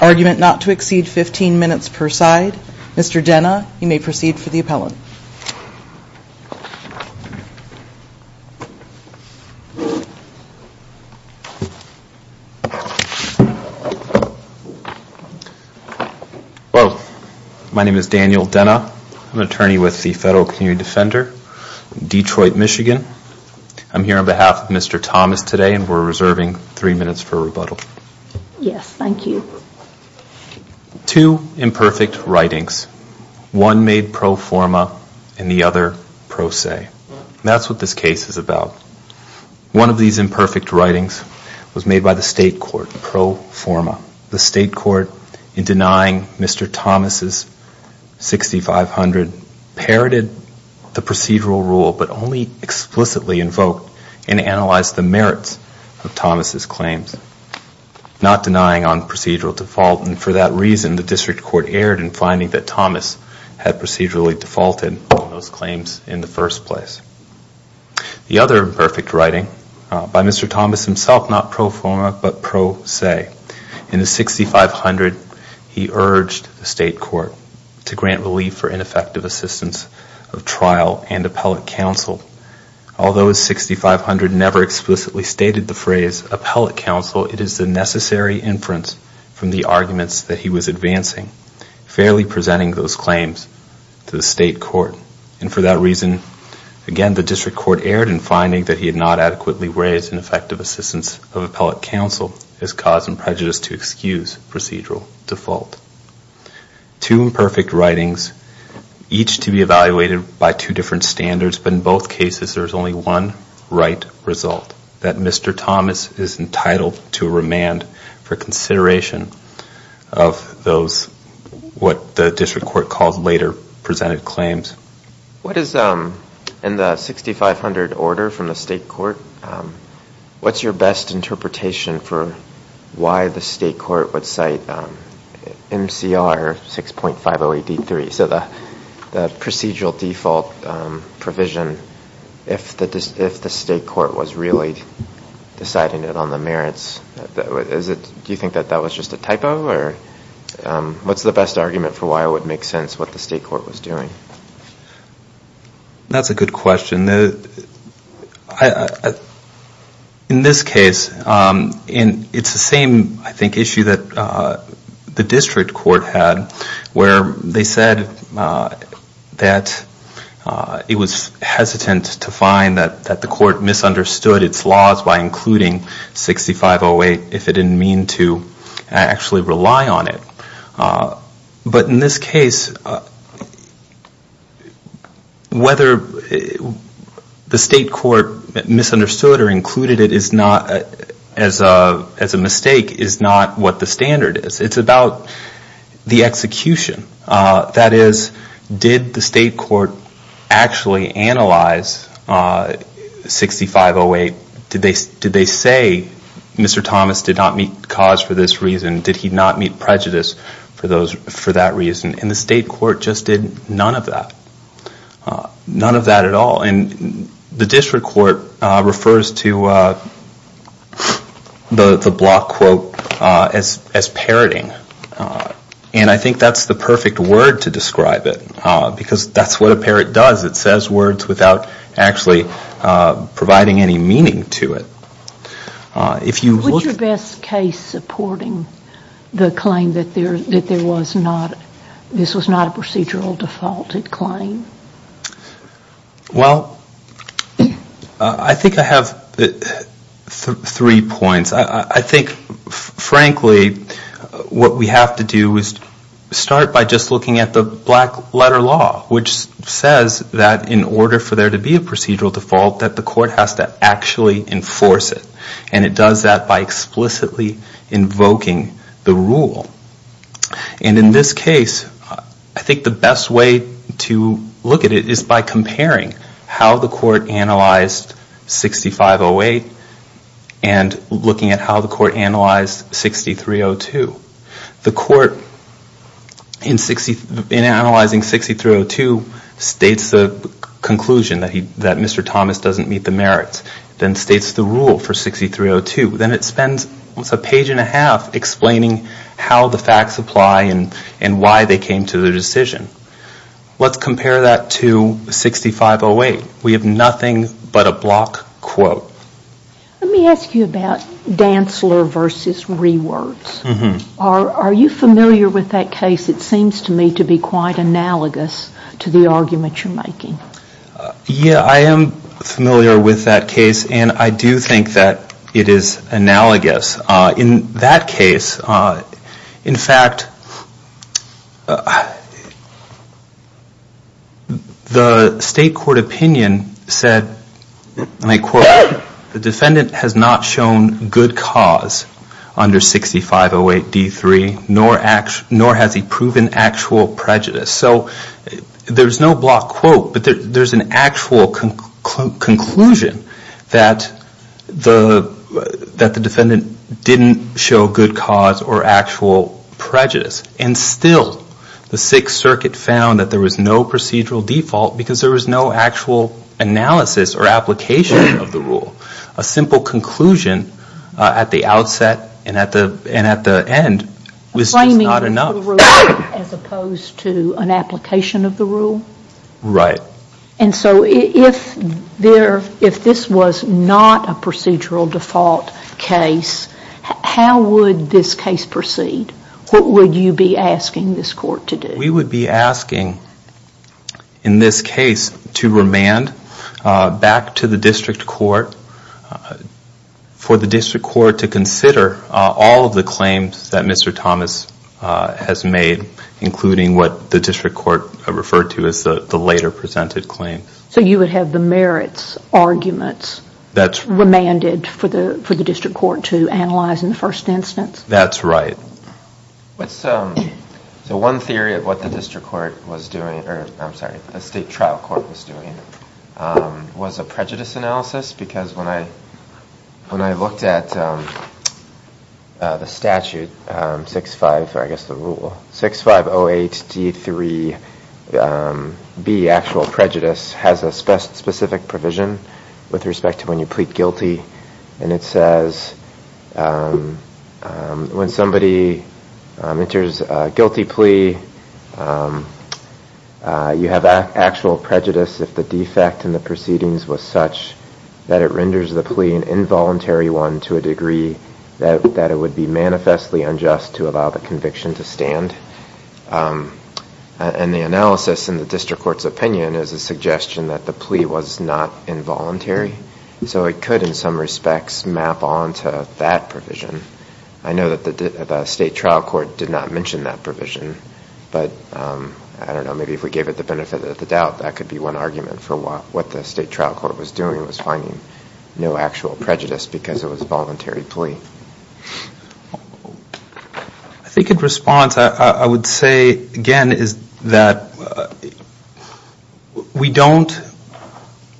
Argument not to exceed 15 minutes per side. Mr. Denna, you may proceed for the appellant. Hello. My name is Daniel Denna. I'm an attorney with the Federal Community Defender in Detroit, Michigan. I'm here on behalf of Mr. Thomas today, and we're reserving three minutes for rebuttal. Yes, thank you. Two imperfect writings, one made pro forma and the other pro se. That's what this case is about. One of these imperfect writings was made by the state court, pro forma. The state court, in denying Mr. Thomas' 6500, parroted the procedural rule, but only explicitly invoked and analyzed the merits of Thomas' claims, not denying on procedural default. And for that reason, the district court erred in finding that Thomas had procedurally defaulted on those claims in the first place. The other imperfect writing, by Mr. Thomas himself, not pro forma, but pro se. In the 6500, he urged the state court to grant relief for ineffective assistance of trial and appellate counsel. Although his 6500 never explicitly stated the phrase appellate counsel, it is the necessary inference from the arguments that he was advancing, fairly presenting those claims to the state court. And for that reason, again, the district court erred in finding that he had not adequately raised ineffective assistance of appellate counsel as cause and prejudice to excuse procedural default. Two imperfect writings, each to be evaluated by two different standards, but in both cases, there is only one right result, that Mr. Thomas is entitled to remand for consideration of those, what the district court calls later presented claims. What is, in the 6500 order from the state court, what's your best interpretation for appellate counsel? And do you have an argument for why the state court would cite MCR 6.508D3, so the procedural default provision, if the state court was really deciding it on the merits? Do you think that that was just a typo? What's the best argument for why it would make sense what the state court was doing? That's a good question. In this case, it's the same, I think, issue that the district court had, where they said that it was hesitant to find that the court misunderstood its laws by including 6508, if it didn't mean to actually rely on it. But in this case, whether the state court misunderstood or included it as a mistake is not what the standard is. It's about the execution. That is, did the state court actually analyze 6508? Did they say Mr. Thomas did not meet cause for this reason? Did he not meet prejudice for that reason? And the state court just did none of that. None of that at all. And the district court refers to the block quote as parroting. And I think that's the perfect word to describe it, because that's what a parrot does. It says words without actually providing any meaning to it. If you look... What's your best case supporting the claim that there was not, this was not a procedural defaulted claim? Well, I think I have three points. I think, frankly, what we have to do is start by just looking at the black letter law, which says that in order for there to be a procedural default, that the court has to actually enforce it. And it does that by explicitly invoking the rule. And in this case, I think the best way to look at it is by comparing how the court analyzed 6508 and looking at how the court analyzed 6302. The court, in analyzing 6302, states the conclusion that Mr. Thomas doesn't meet the merits. Then states the rule for 6302. Then it spends a page and a half explaining how the facts apply and why they came to the decision. Let's compare that to 6508. We have nothing but a block quote. Are you familiar with that case? It seems to me to be quite analogous to the argument you're making. Yeah, I am familiar with that case. And I do think that it is analogous. In that case, in fact, the state court opinion said, and I quote, the defendant has not shown good cause under 6508D3, nor has he proven actual prejudice. So there's no block quote, but there's an actual conclusion that the defendant didn't show good cause or actual prejudice. And still the Sixth Circuit found that there was no procedural default because there was no actual analysis or application of the rule. A simple conclusion at the outset and at the end was just not enough. As opposed to an application of the rule? Right. And so if this was not a procedural default case, how would this case proceed? What would you be asking this court to do? We would be asking, in this case, to remand back to the district court for the district court to consider all of the claims that Mr. Thomas has made, including what the district court referred to as the later presented claim. So you would have the merits arguments remanded for the district court to analyze in the first instance? That's right. So one theory of what the district court was doing, or I'm sorry, the state trial court was doing, was a prejudice analysis. Because when I looked at the statute, 65, I guess the rule, 6508D3B, actual prejudice, has a specific provision with respect to when you plead guilty. And it says when somebody enters a guilty plea, you have actual prejudice if the defect in the proceedings was such that it renders the plea an involuntary one to a degree that it would be manifestly unjust to allow the conviction to stand. And the analysis in the district court's opinion is a suggestion that the plea was not involuntary. So it could, in some respects, map on to that provision. I know that the state trial court did not mention that provision. But I don't know, maybe if we gave it the benefit of the doubt, that could be one argument for what the state trial court was doing, was finding no actual prejudice because it was a voluntary plea. I think in response, I would say, again, is that we don't,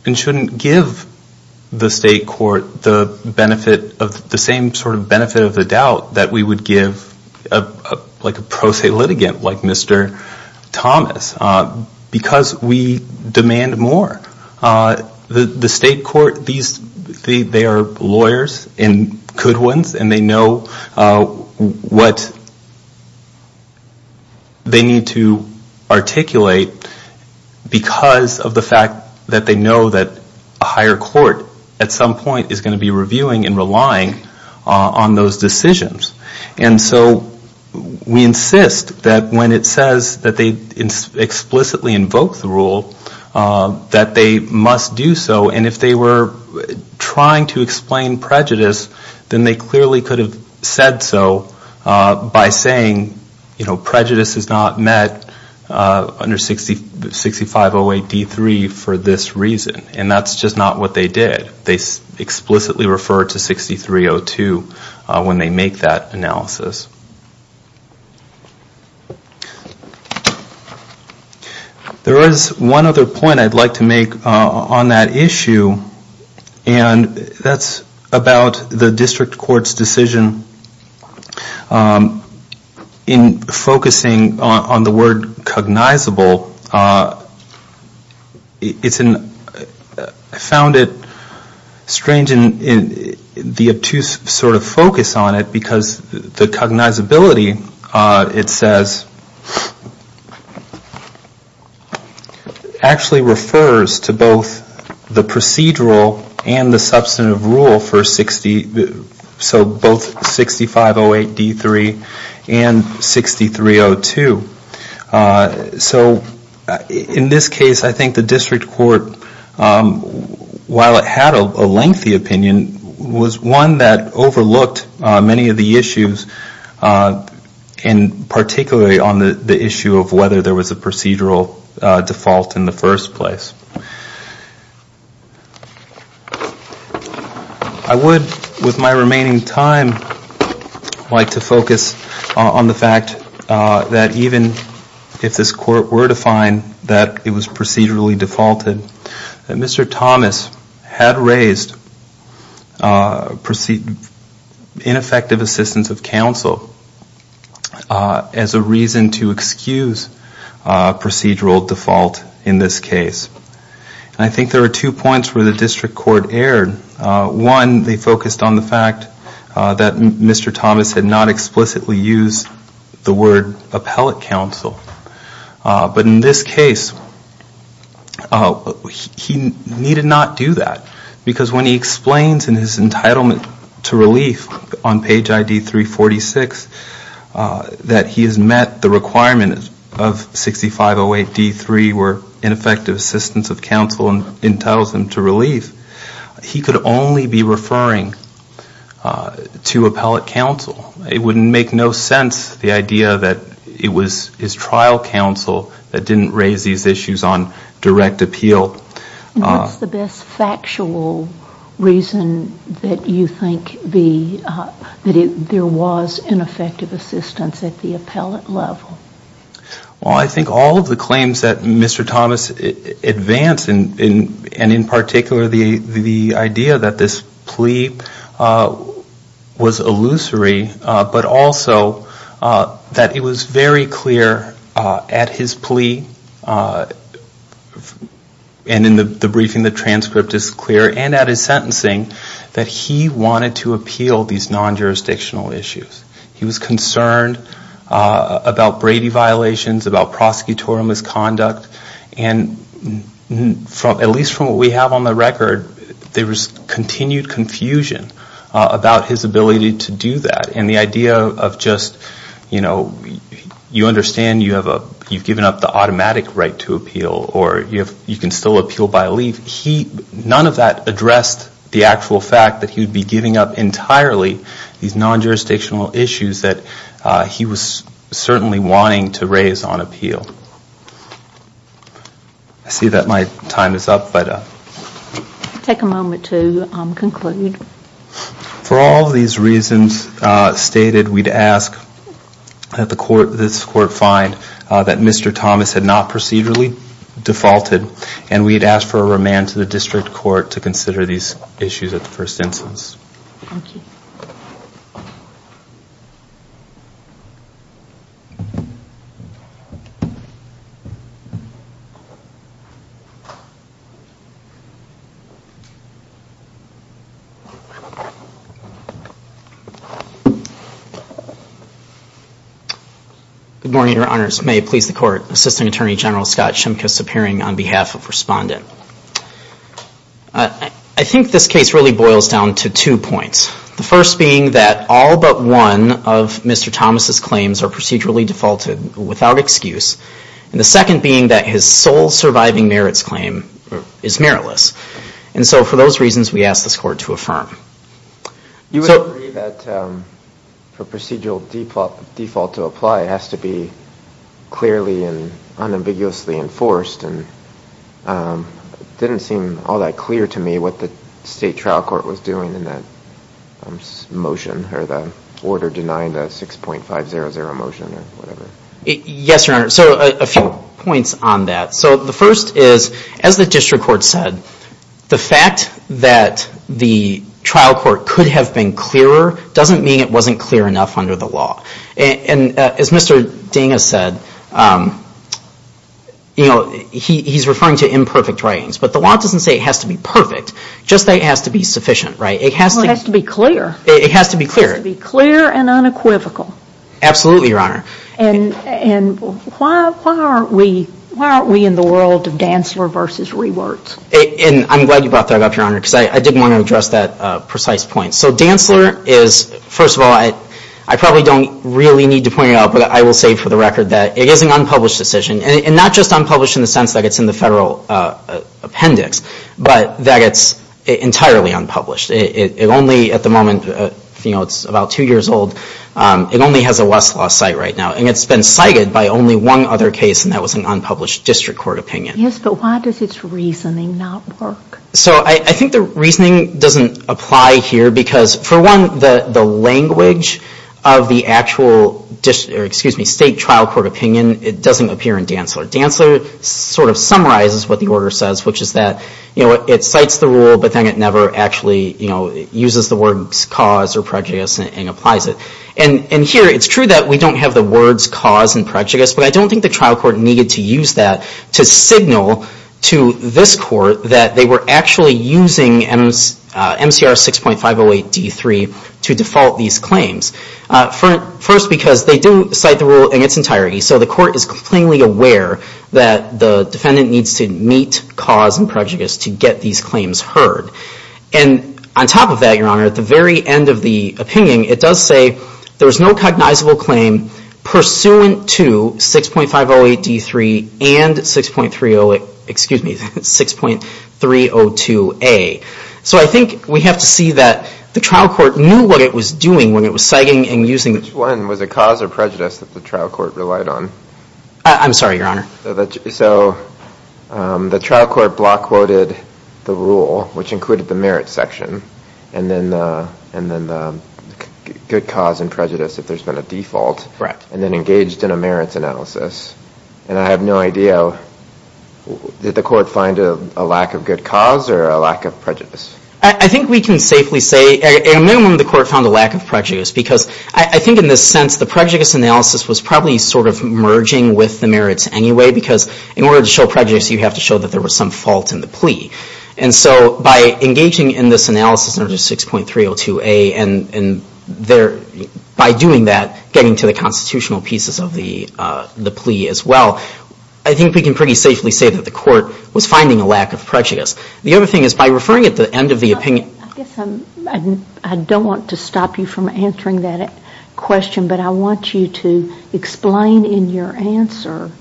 and shouldn't, give the state trial court the benefit of the doubt. That we would give a pro se litigant like Mr. Thomas, because we demand more. The state court, they are lawyers and good ones, and they know what they need to articulate because of the fact that they know that a higher court at some point is going to be reviewing and relying on those decisions. And so we insist that when it says that they explicitly invoke the rule, that they must do so. And if they were trying to explain prejudice, then they clearly could have said so by saying, you know, prejudice is not met under 6508 D3 for this reason. And that's just not what they did. They explicitly referred to 6302 when they make that analysis. There is one other point I'd like to make on that issue, and that's about the district court's decision in focusing on the word cognizable. I found it strange in the obtuse sort of focus on it, because the cognizability, it says, actually refers to both the procedural and the substantive rule for 6508 D3 and 6302. So in this case, I think the district court, while it had a lengthy opinion, was one that overlooked many of the issues, and particularly on the issue of whether there was a procedural default in the first place. I would, with my remaining time, like to focus on the fact that even if this court were to be reviewed, it would still be a procedural default. Even if this court were to find that it was procedurally defaulted, Mr. Thomas had raised ineffective assistance of counsel as a reason to excuse procedural default in this case. And I think there are two points where the district court erred. One, they focused on the fact that Mr. Thomas had not explicitly used the word appellate counsel. But in this case, he needed not do that, because when he explains in his entitlement to relief on page ID 346, that he has met the requirement of 6508 D3, where ineffective assistance of counsel entitles him to relief, he could not do that. He could only be referring to appellate counsel. It would make no sense, the idea that it was his trial counsel that didn't raise these issues on direct appeal. And what's the best factual reason that you think that there was ineffective assistance at the appellate level? Well, I think all of the claims that Mr. Thomas advanced, and in particular, the idea that there was ineffective assistance, the idea that this plea was illusory, but also that it was very clear at his plea, and in the briefing, the transcript is clear, and at his sentencing, that he wanted to appeal these non-jurisdictional issues. He was concerned about Brady violations, about prosecutorial misconduct, and at least from what we have on the record, there was continued confusion about his ability to do that. And the idea of just, you know, you understand you have a, you've given up the automatic right to appeal, or you can still appeal by leave, he, none of that addressed the actual fact that he would be giving up entirely these non-jurisdictional issues that he was certainly wanting to raise on appeal. I see that my time is up, but... Take a moment to conclude. For all of these reasons stated, we'd ask that this Court find that Mr. Thomas had not procedurally defaulted, and we'd ask for a remand to the District Court to consider these issues at the first instance. Good morning, Your Honors. May it please the Court, Assistant Attorney General Scott Shimkus appearing on behalf of Respondent. I think this case really boils down to two points. The first being that all but one of Mr. Thomas's claims are procedurally defaulted without excuse. And the second being that his sole surviving merits claim is meritless. And so for those reasons, we ask this Court to affirm. You would agree that for procedural default to apply, it has to be clearly and unambiguously enforced, and it didn't seem all that clear to me what the State Trial Court was doing in that motion, or the order denying the 6.500 motion or whatever. Yes, Your Honor. So a few points on that. So the first is, as the District Court said, the fact that the trial court could have been clearer doesn't mean it wasn't clear enough under the law. And as Mr. Ding has said, he's referring to imperfect writings, but the law doesn't say it has to be perfect. Just that it has to be sufficient, right? Well, it has to be clear. It has to be clear. It has to be clear and unequivocal. Absolutely, Your Honor. And why aren't we in the world of Dantzler versus Rewerts? And I'm glad you brought that up, Your Honor, because I did want to address that precise point. So Dantzler is, first of all, I probably don't really need to point it out, but I will say for the record that it is an unpublished decision. And not just unpublished in the sense that it's in the federal appendix, but that it's entirely unpublished. It only, at the moment, you know, it's about two years old, it only has a Westlaw site right now. And it's been cited by only one other case, and that was an unpublished District Court opinion. Yes, but why does its reasoning not work? So I think the reasoning doesn't apply here, because, for one, the language of the actual State Trial Court opinion, it doesn't appear in Dantzler. Dantzler sort of summarizes what the order says, which is that, you know, it cites the rule, but then it never actually, you know, uses the words cause or prejudice and applies it. And here, it's true that we don't have the words cause and prejudice, but I don't think the trial court needed to use that to signify that. And I think it's additional to this court that they were actually using MCR 6.508 D3 to default these claims. First, because they do cite the rule in its entirety, so the court is plainly aware that the defendant needs to meet cause and prejudice to get these claims heard. And on top of that, Your Honor, at the very end of the opinion, it does say there was no cognizable claim pursuant to 6.508 D3 and 6.308 D3. I'm sorry, excuse me, 6.302 A. So I think we have to see that the trial court knew what it was doing when it was citing and using. Which one, was it cause or prejudice that the trial court relied on? I'm sorry, Your Honor. So the trial court block quoted the rule, which included the merit section, and then the good cause and prejudice, if there's been a default. And then engaged in a merits analysis. And I have no idea, did the court find a lack of good cause or a lack of prejudice? I think we can safely say, at a minimum, the court found a lack of prejudice. Because I think in this sense, the prejudice analysis was probably sort of merging with the merits anyway. Because in order to show prejudice, you have to show that there was some fault in the plea. And so by engaging in this analysis under 6.302 A, and by doing that, getting to the constitutional pieces of the plea as well, I think we can pretty safely say that the court was finding a lack of prejudice. The other thing is, by referring at the end of the opinion. I don't want to stop you from answering that question, but I want you to explain in your answer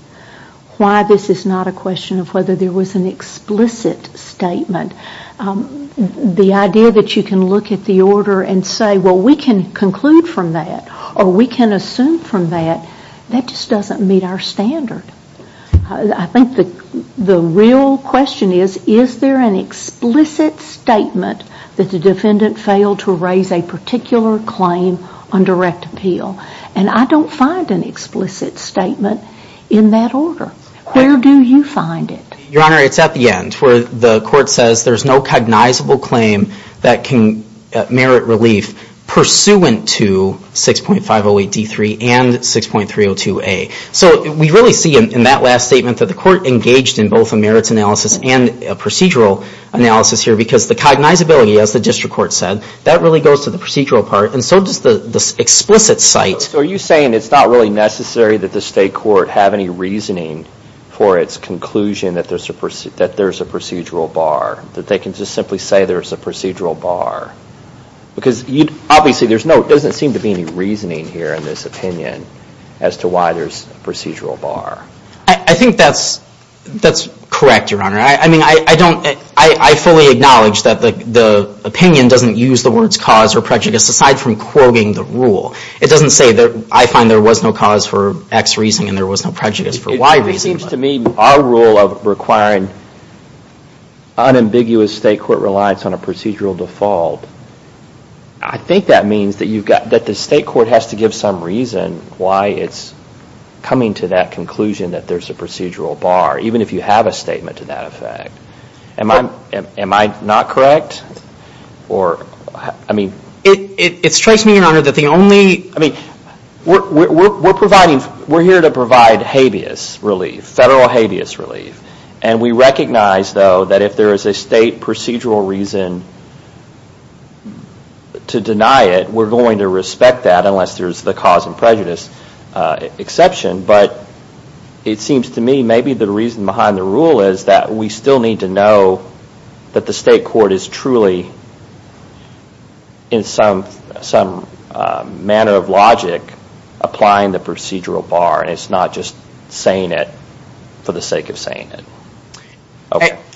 why this is not a question of whether there was an explicit statement. The idea that you can look at the order and say, well, we can conclude from that, or we can assume from that, that just doesn't meet our standard. I think the real question is, is there an explicit statement that the defendant failed to raise a particular claim on direct appeal? And I don't find an explicit statement in that order. Where do you find it? Your Honor, it's at the end, where the court says there's no cognizable claim that can merit relief pursuant to 6.508 D3 and 6.302 A. So we really see in that last statement that the court engaged in both a merits analysis and a procedural analysis here, because the cognizability, as the district court said, that really goes to the procedural part, and so does the explicit site. So are you saying it's not really necessary that the state court have any reasoning for its conclusion that there's a procedural bar? That they can just simply say there's a procedural bar? Because obviously there doesn't seem to be any reasoning here in this opinion as to why there's a procedural bar. I think that's correct, Your Honor. I fully acknowledge that the opinion doesn't use the words cause or prejudice aside from quoting the rule. It doesn't say, I find there was no cause for X reason and there was no prejudice for Y reason. It seems to me our rule of requiring unambiguous state court reliance on a procedural default, I think that means that the state court has to give some reason why it's coming to that conclusion. That there's a procedural bar, even if you have a statement to that effect. Am I not correct? It strikes me, Your Honor, that the only... We're here to provide habeas relief, federal habeas relief. And we recognize, though, that if there is a state procedural reason to deny it, we're going to respect that unless there's the cause and prejudice exception. But it seems to me maybe the reason behind the rule is that we still need to know that the state court is truly, in some manner of logic, applying the procedural bar and it's not just saying it for the sake of saying it.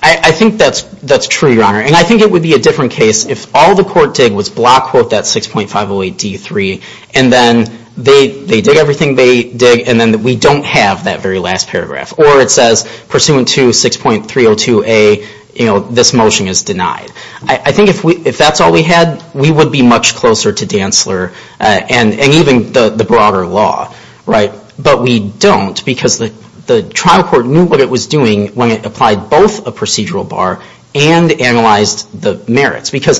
I think that's true, Your Honor. And I think it would be a different case if all the court did was block quote that 6.508D3 and then they did everything they did and then we don't have that very last paragraph. Or it says, pursuant to 6.302A, this motion is denied. I think if that's all we had, we would be much closer to Dantzler and even the broader law. But we don't because the trial court knew what it was doing when it applied both a procedural bar and analyzed the merits. There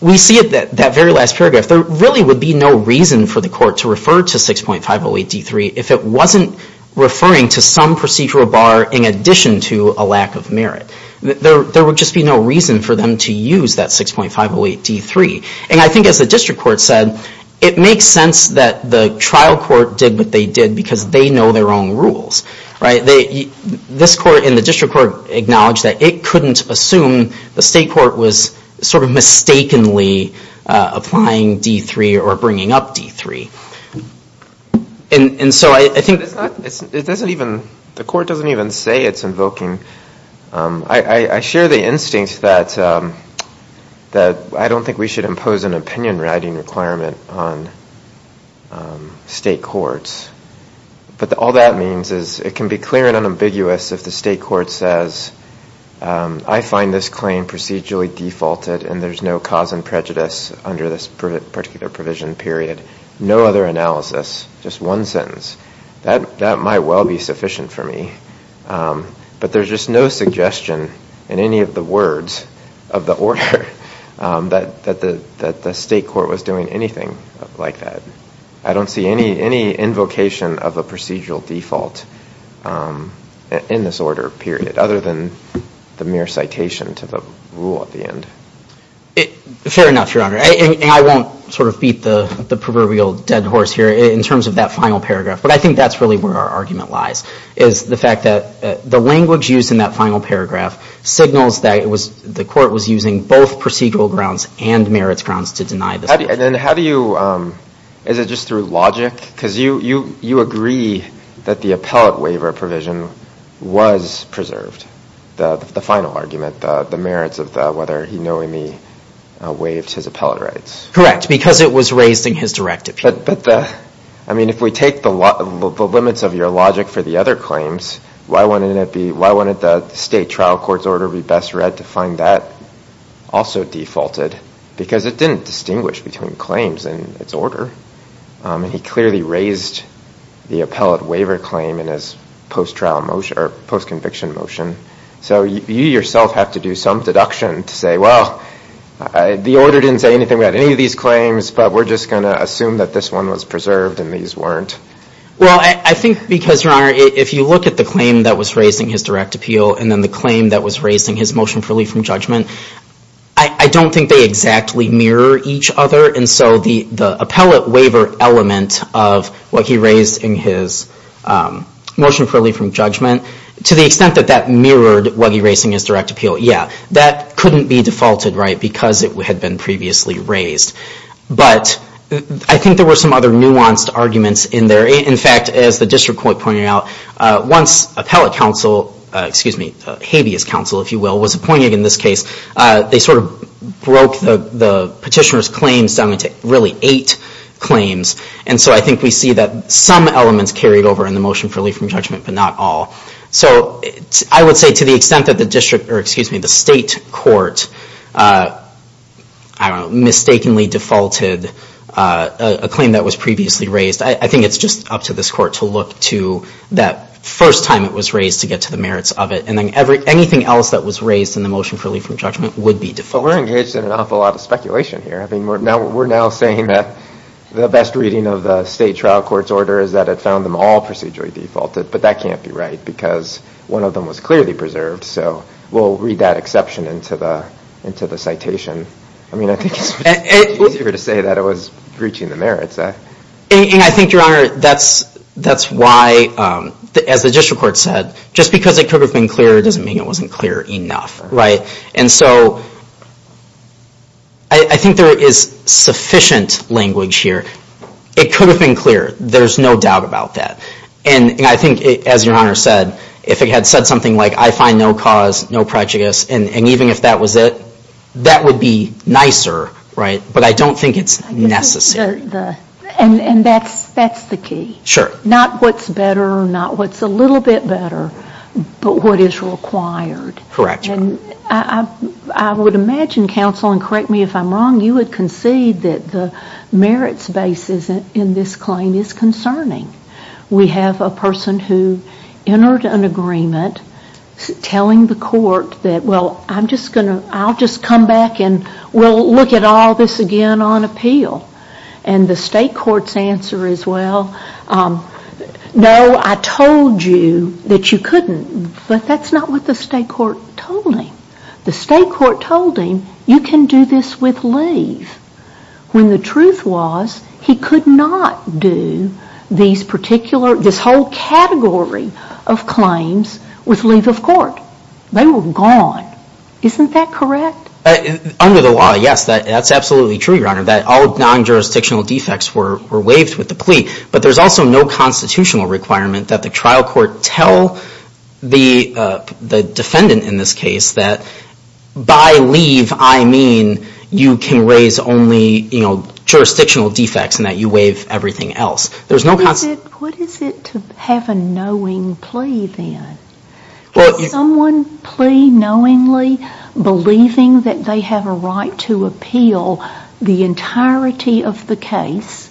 really would be no reason for the court to refer to 6.508D3 if it wasn't referring to some procedural bar in addition to a lack of merit. There would just be no reason for them to use that 6.508D3. And I think as the district court said, it makes sense that the trial court did what they did because they know their own rules. This court and the district court acknowledged that it couldn't assume the state court was sort of mistakenly applying D3 or bringing up D3. And so I think... The court doesn't even say it's invoking... But all that means is it can be clear and unambiguous if the state court says, I find this claim procedurally defaulted and there's no cause and prejudice under this particular provision period. No other analysis. Just one sentence. That might well be sufficient for me. But there's just no suggestion in any of the words of the order that the state court was doing anything like that. I don't see any invocation of a procedural default in this order period, other than the mere citation to the rule at the end. Fair enough, Your Honor. And I won't sort of beat the proverbial dead horse here in terms of that final paragraph. But I think that's really where our argument lies, is the fact that the language used in that final paragraph signals that the court was using both procedural grounds and merits grounds to deny this provision. And how do you... Is it just through logic? Because you agree that the appellate waiver provision was preserved, the final argument, the merits of whether he knowingly waived his appellate rights. Correct. Because it was raised in his direct appeal. But if we take the limits of your logic for the other claims, why wouldn't the state trial court's order be best read to find that also defaulted? Because it didn't distinguish between claims and its order. He clearly raised the appellate waiver claim in his post-conviction motion. So you yourself have to do some deduction to say, well, the order didn't say anything about any of these claims, but we're just going to assume that this one was preserved and these weren't. Well, I think because, Your Honor, if you look at the claim that was raised in his direct appeal and then the claim that was raised in his motion for relief from judgment, I don't think they exactly mirror each other. And so the appellate waiver element of what he raised in his motion for relief from judgment, to the extent that that mirrored what he raised in his direct appeal, yeah, that couldn't be defaulted because it had been previously raised. But I think there were some other nuanced arguments in there. In fact, as the district court pointed out, once appellate counsel, excuse me, habeas counsel, if you will, was appointed in this case, they sort of broke the petitioner's claims down into really eight claims. And so I think we see that some elements carried over in the motion for relief from judgment, but not all. So I would say to the extent that the district, or excuse me, the state court, I don't know, mistakenly defaulted a claim that was previously raised. I think it's just up to this court to look to that first time it was raised to get to the merits of it. And then anything else that was raised in the motion for relief from judgment would be defaulted. But we're engaged in an awful lot of speculation here. I mean, we're now saying that the best reading of the state trial court's order is that it found them all procedurally defaulted. But that can't be right because one of them was clearly preserved. So we'll read that exception into the citation. I mean, I think it's easier to say that it was breaching the merits. And I think, Your Honor, that's why, as the district court said, just because it could have been clear doesn't mean it wasn't clear enough. And so I think there is sufficient language here. It could have been clear. There's no doubt about that. And I think, as Your Honor said, if it had said something like, I find no cause, no prejudice, and even if that was it, that would be nicer, right? But I don't think it's necessary. And that's the key. Sure. Not what's better, not what's a little bit better, but what is required. Correct. And I would imagine, counsel, and correct me if I'm wrong, you would concede that the merits basis in this claim is concerning. We have a person who entered an agreement telling the court that, well, I'll just come back and we'll look at all this again on appeal. And the state court's answer is, well, no, I told you that you couldn't. But that's not what the state court told him. The state court told him, you can do this with leave. When the truth was, he could not do these particular, this whole category of claims with leave of court. They were gone. Isn't that correct? Under the law, yes, that's absolutely true, Your Honor, that all non-jurisdictional defects were waived with the plea. But there's also no constitutional requirement that the trial court tell the defendant in this case that by leave I mean you can raise only jurisdictional defects and that you waive everything else. What is it to have a knowing plea then? Can someone plea knowingly, believing that they have a right to appeal the entirety of the case,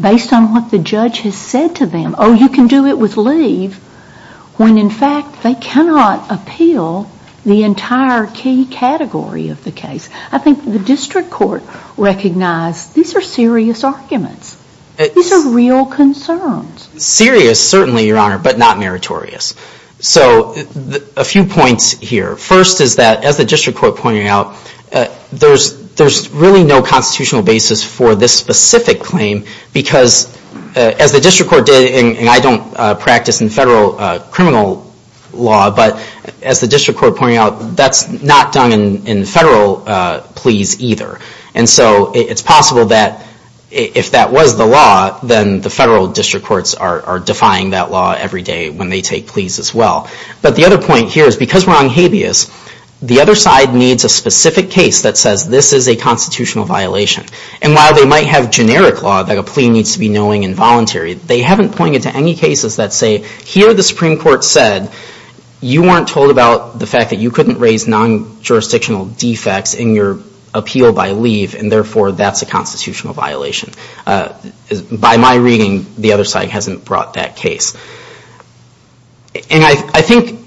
based on what the judge has said to them, oh, you can do it with leave, when in fact they cannot appeal the entire key category of the case? I think the district court recognized these are serious arguments. These are real concerns. Serious, certainly, Your Honor, but not meritorious. So a few points here. First is that, as the district court pointed out, there's really no constitutional basis for this specific claim because, as the district court did, and I don't practice in federal criminal law, but as the district court pointed out, that's not done in federal pleas either. And so it's possible that if that was the law, then the federal district courts are defying that law every day when they take pleas as well. But the other point here is because we're on habeas, the other side needs a specific case that says this is a constitutional violation. And while they might have generic law that a plea needs to be knowing and voluntary, they haven't pointed to any cases that say, here the Supreme Court said, you weren't told about the fact that you couldn't raise non-jurisdictional defects in your appeal by leave, and therefore that's a constitutional violation. By my reading, the other side hasn't brought that case. And I think,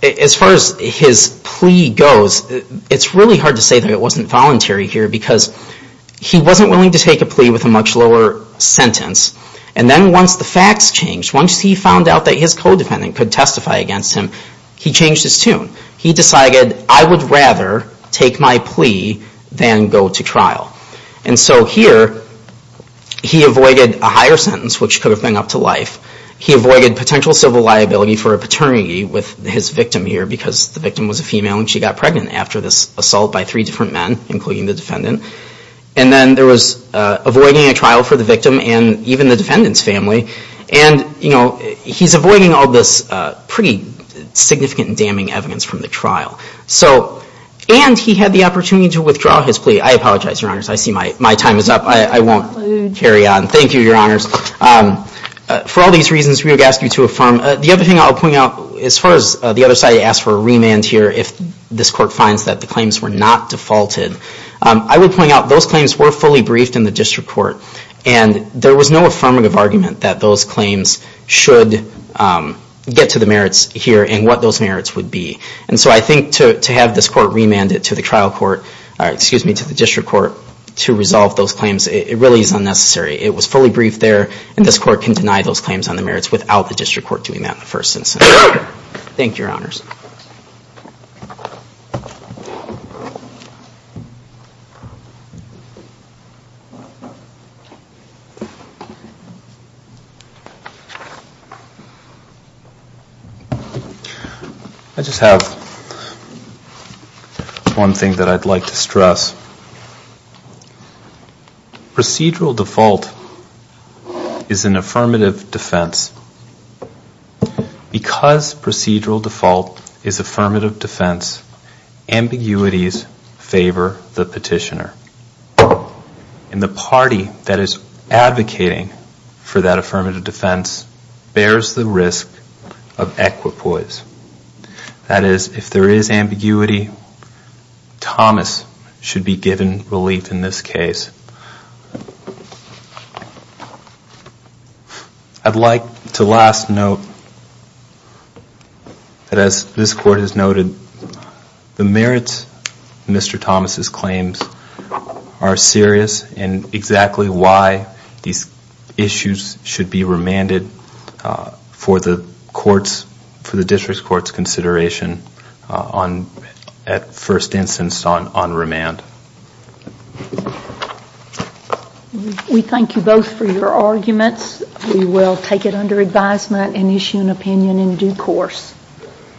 as far as his plea goes, it's really hard to say that it wasn't voluntary here because he wasn't willing to take a plea with a much lower sentence. And then once the facts changed, once he found out that his co-defendant could testify against him, he changed his tune. He decided, I would rather take my plea than go to trial. And so here he avoided a higher sentence, which could have been up to life. He avoided potential civil liability for a paternity with his victim here because the victim was a female and she got pregnant after this assault by three different men, including the defendant. And then there was avoiding a trial for the victim and even the defendant's family. And he's avoiding all this pretty significant and damning evidence from the trial. And he had the opportunity to withdraw his plea. I apologize, Your Honors. I see my time is up. I won't carry on. Thank you, Your Honors. For all these reasons, we would ask you to affirm. The other thing I'll point out, as far as the other side asked for a remand here, if this Court finds that the claims were not defaulted, I would point out those claims were fully briefed in the District Court. And there was no affirmative argument that those claims should get to the merits here and what those merits would be. And so I think to have this Court remand it to the District Court to resolve those claims, it really is unnecessary. It was fully briefed there, and this Court can deny those claims on the merits without the District Court doing that in the first instance. Thank you, Your Honors. I just have one thing that I'd like to stress. Procedural default is an affirmative defense. Because procedural default is affirmative defense, ambiguities favor the petitioner. And the party that is advocating for that affirmative defense bears the risk of equipoise. That is, if there is ambiguity, Thomas should be given relief in this case. I'd like to last note that as this Court has noted, the merits of Mr. Thomas' claims are serious, and exactly why these issues should be remanded for the courts, for the District Court's consideration at first instance on remand. We thank you both for your arguments.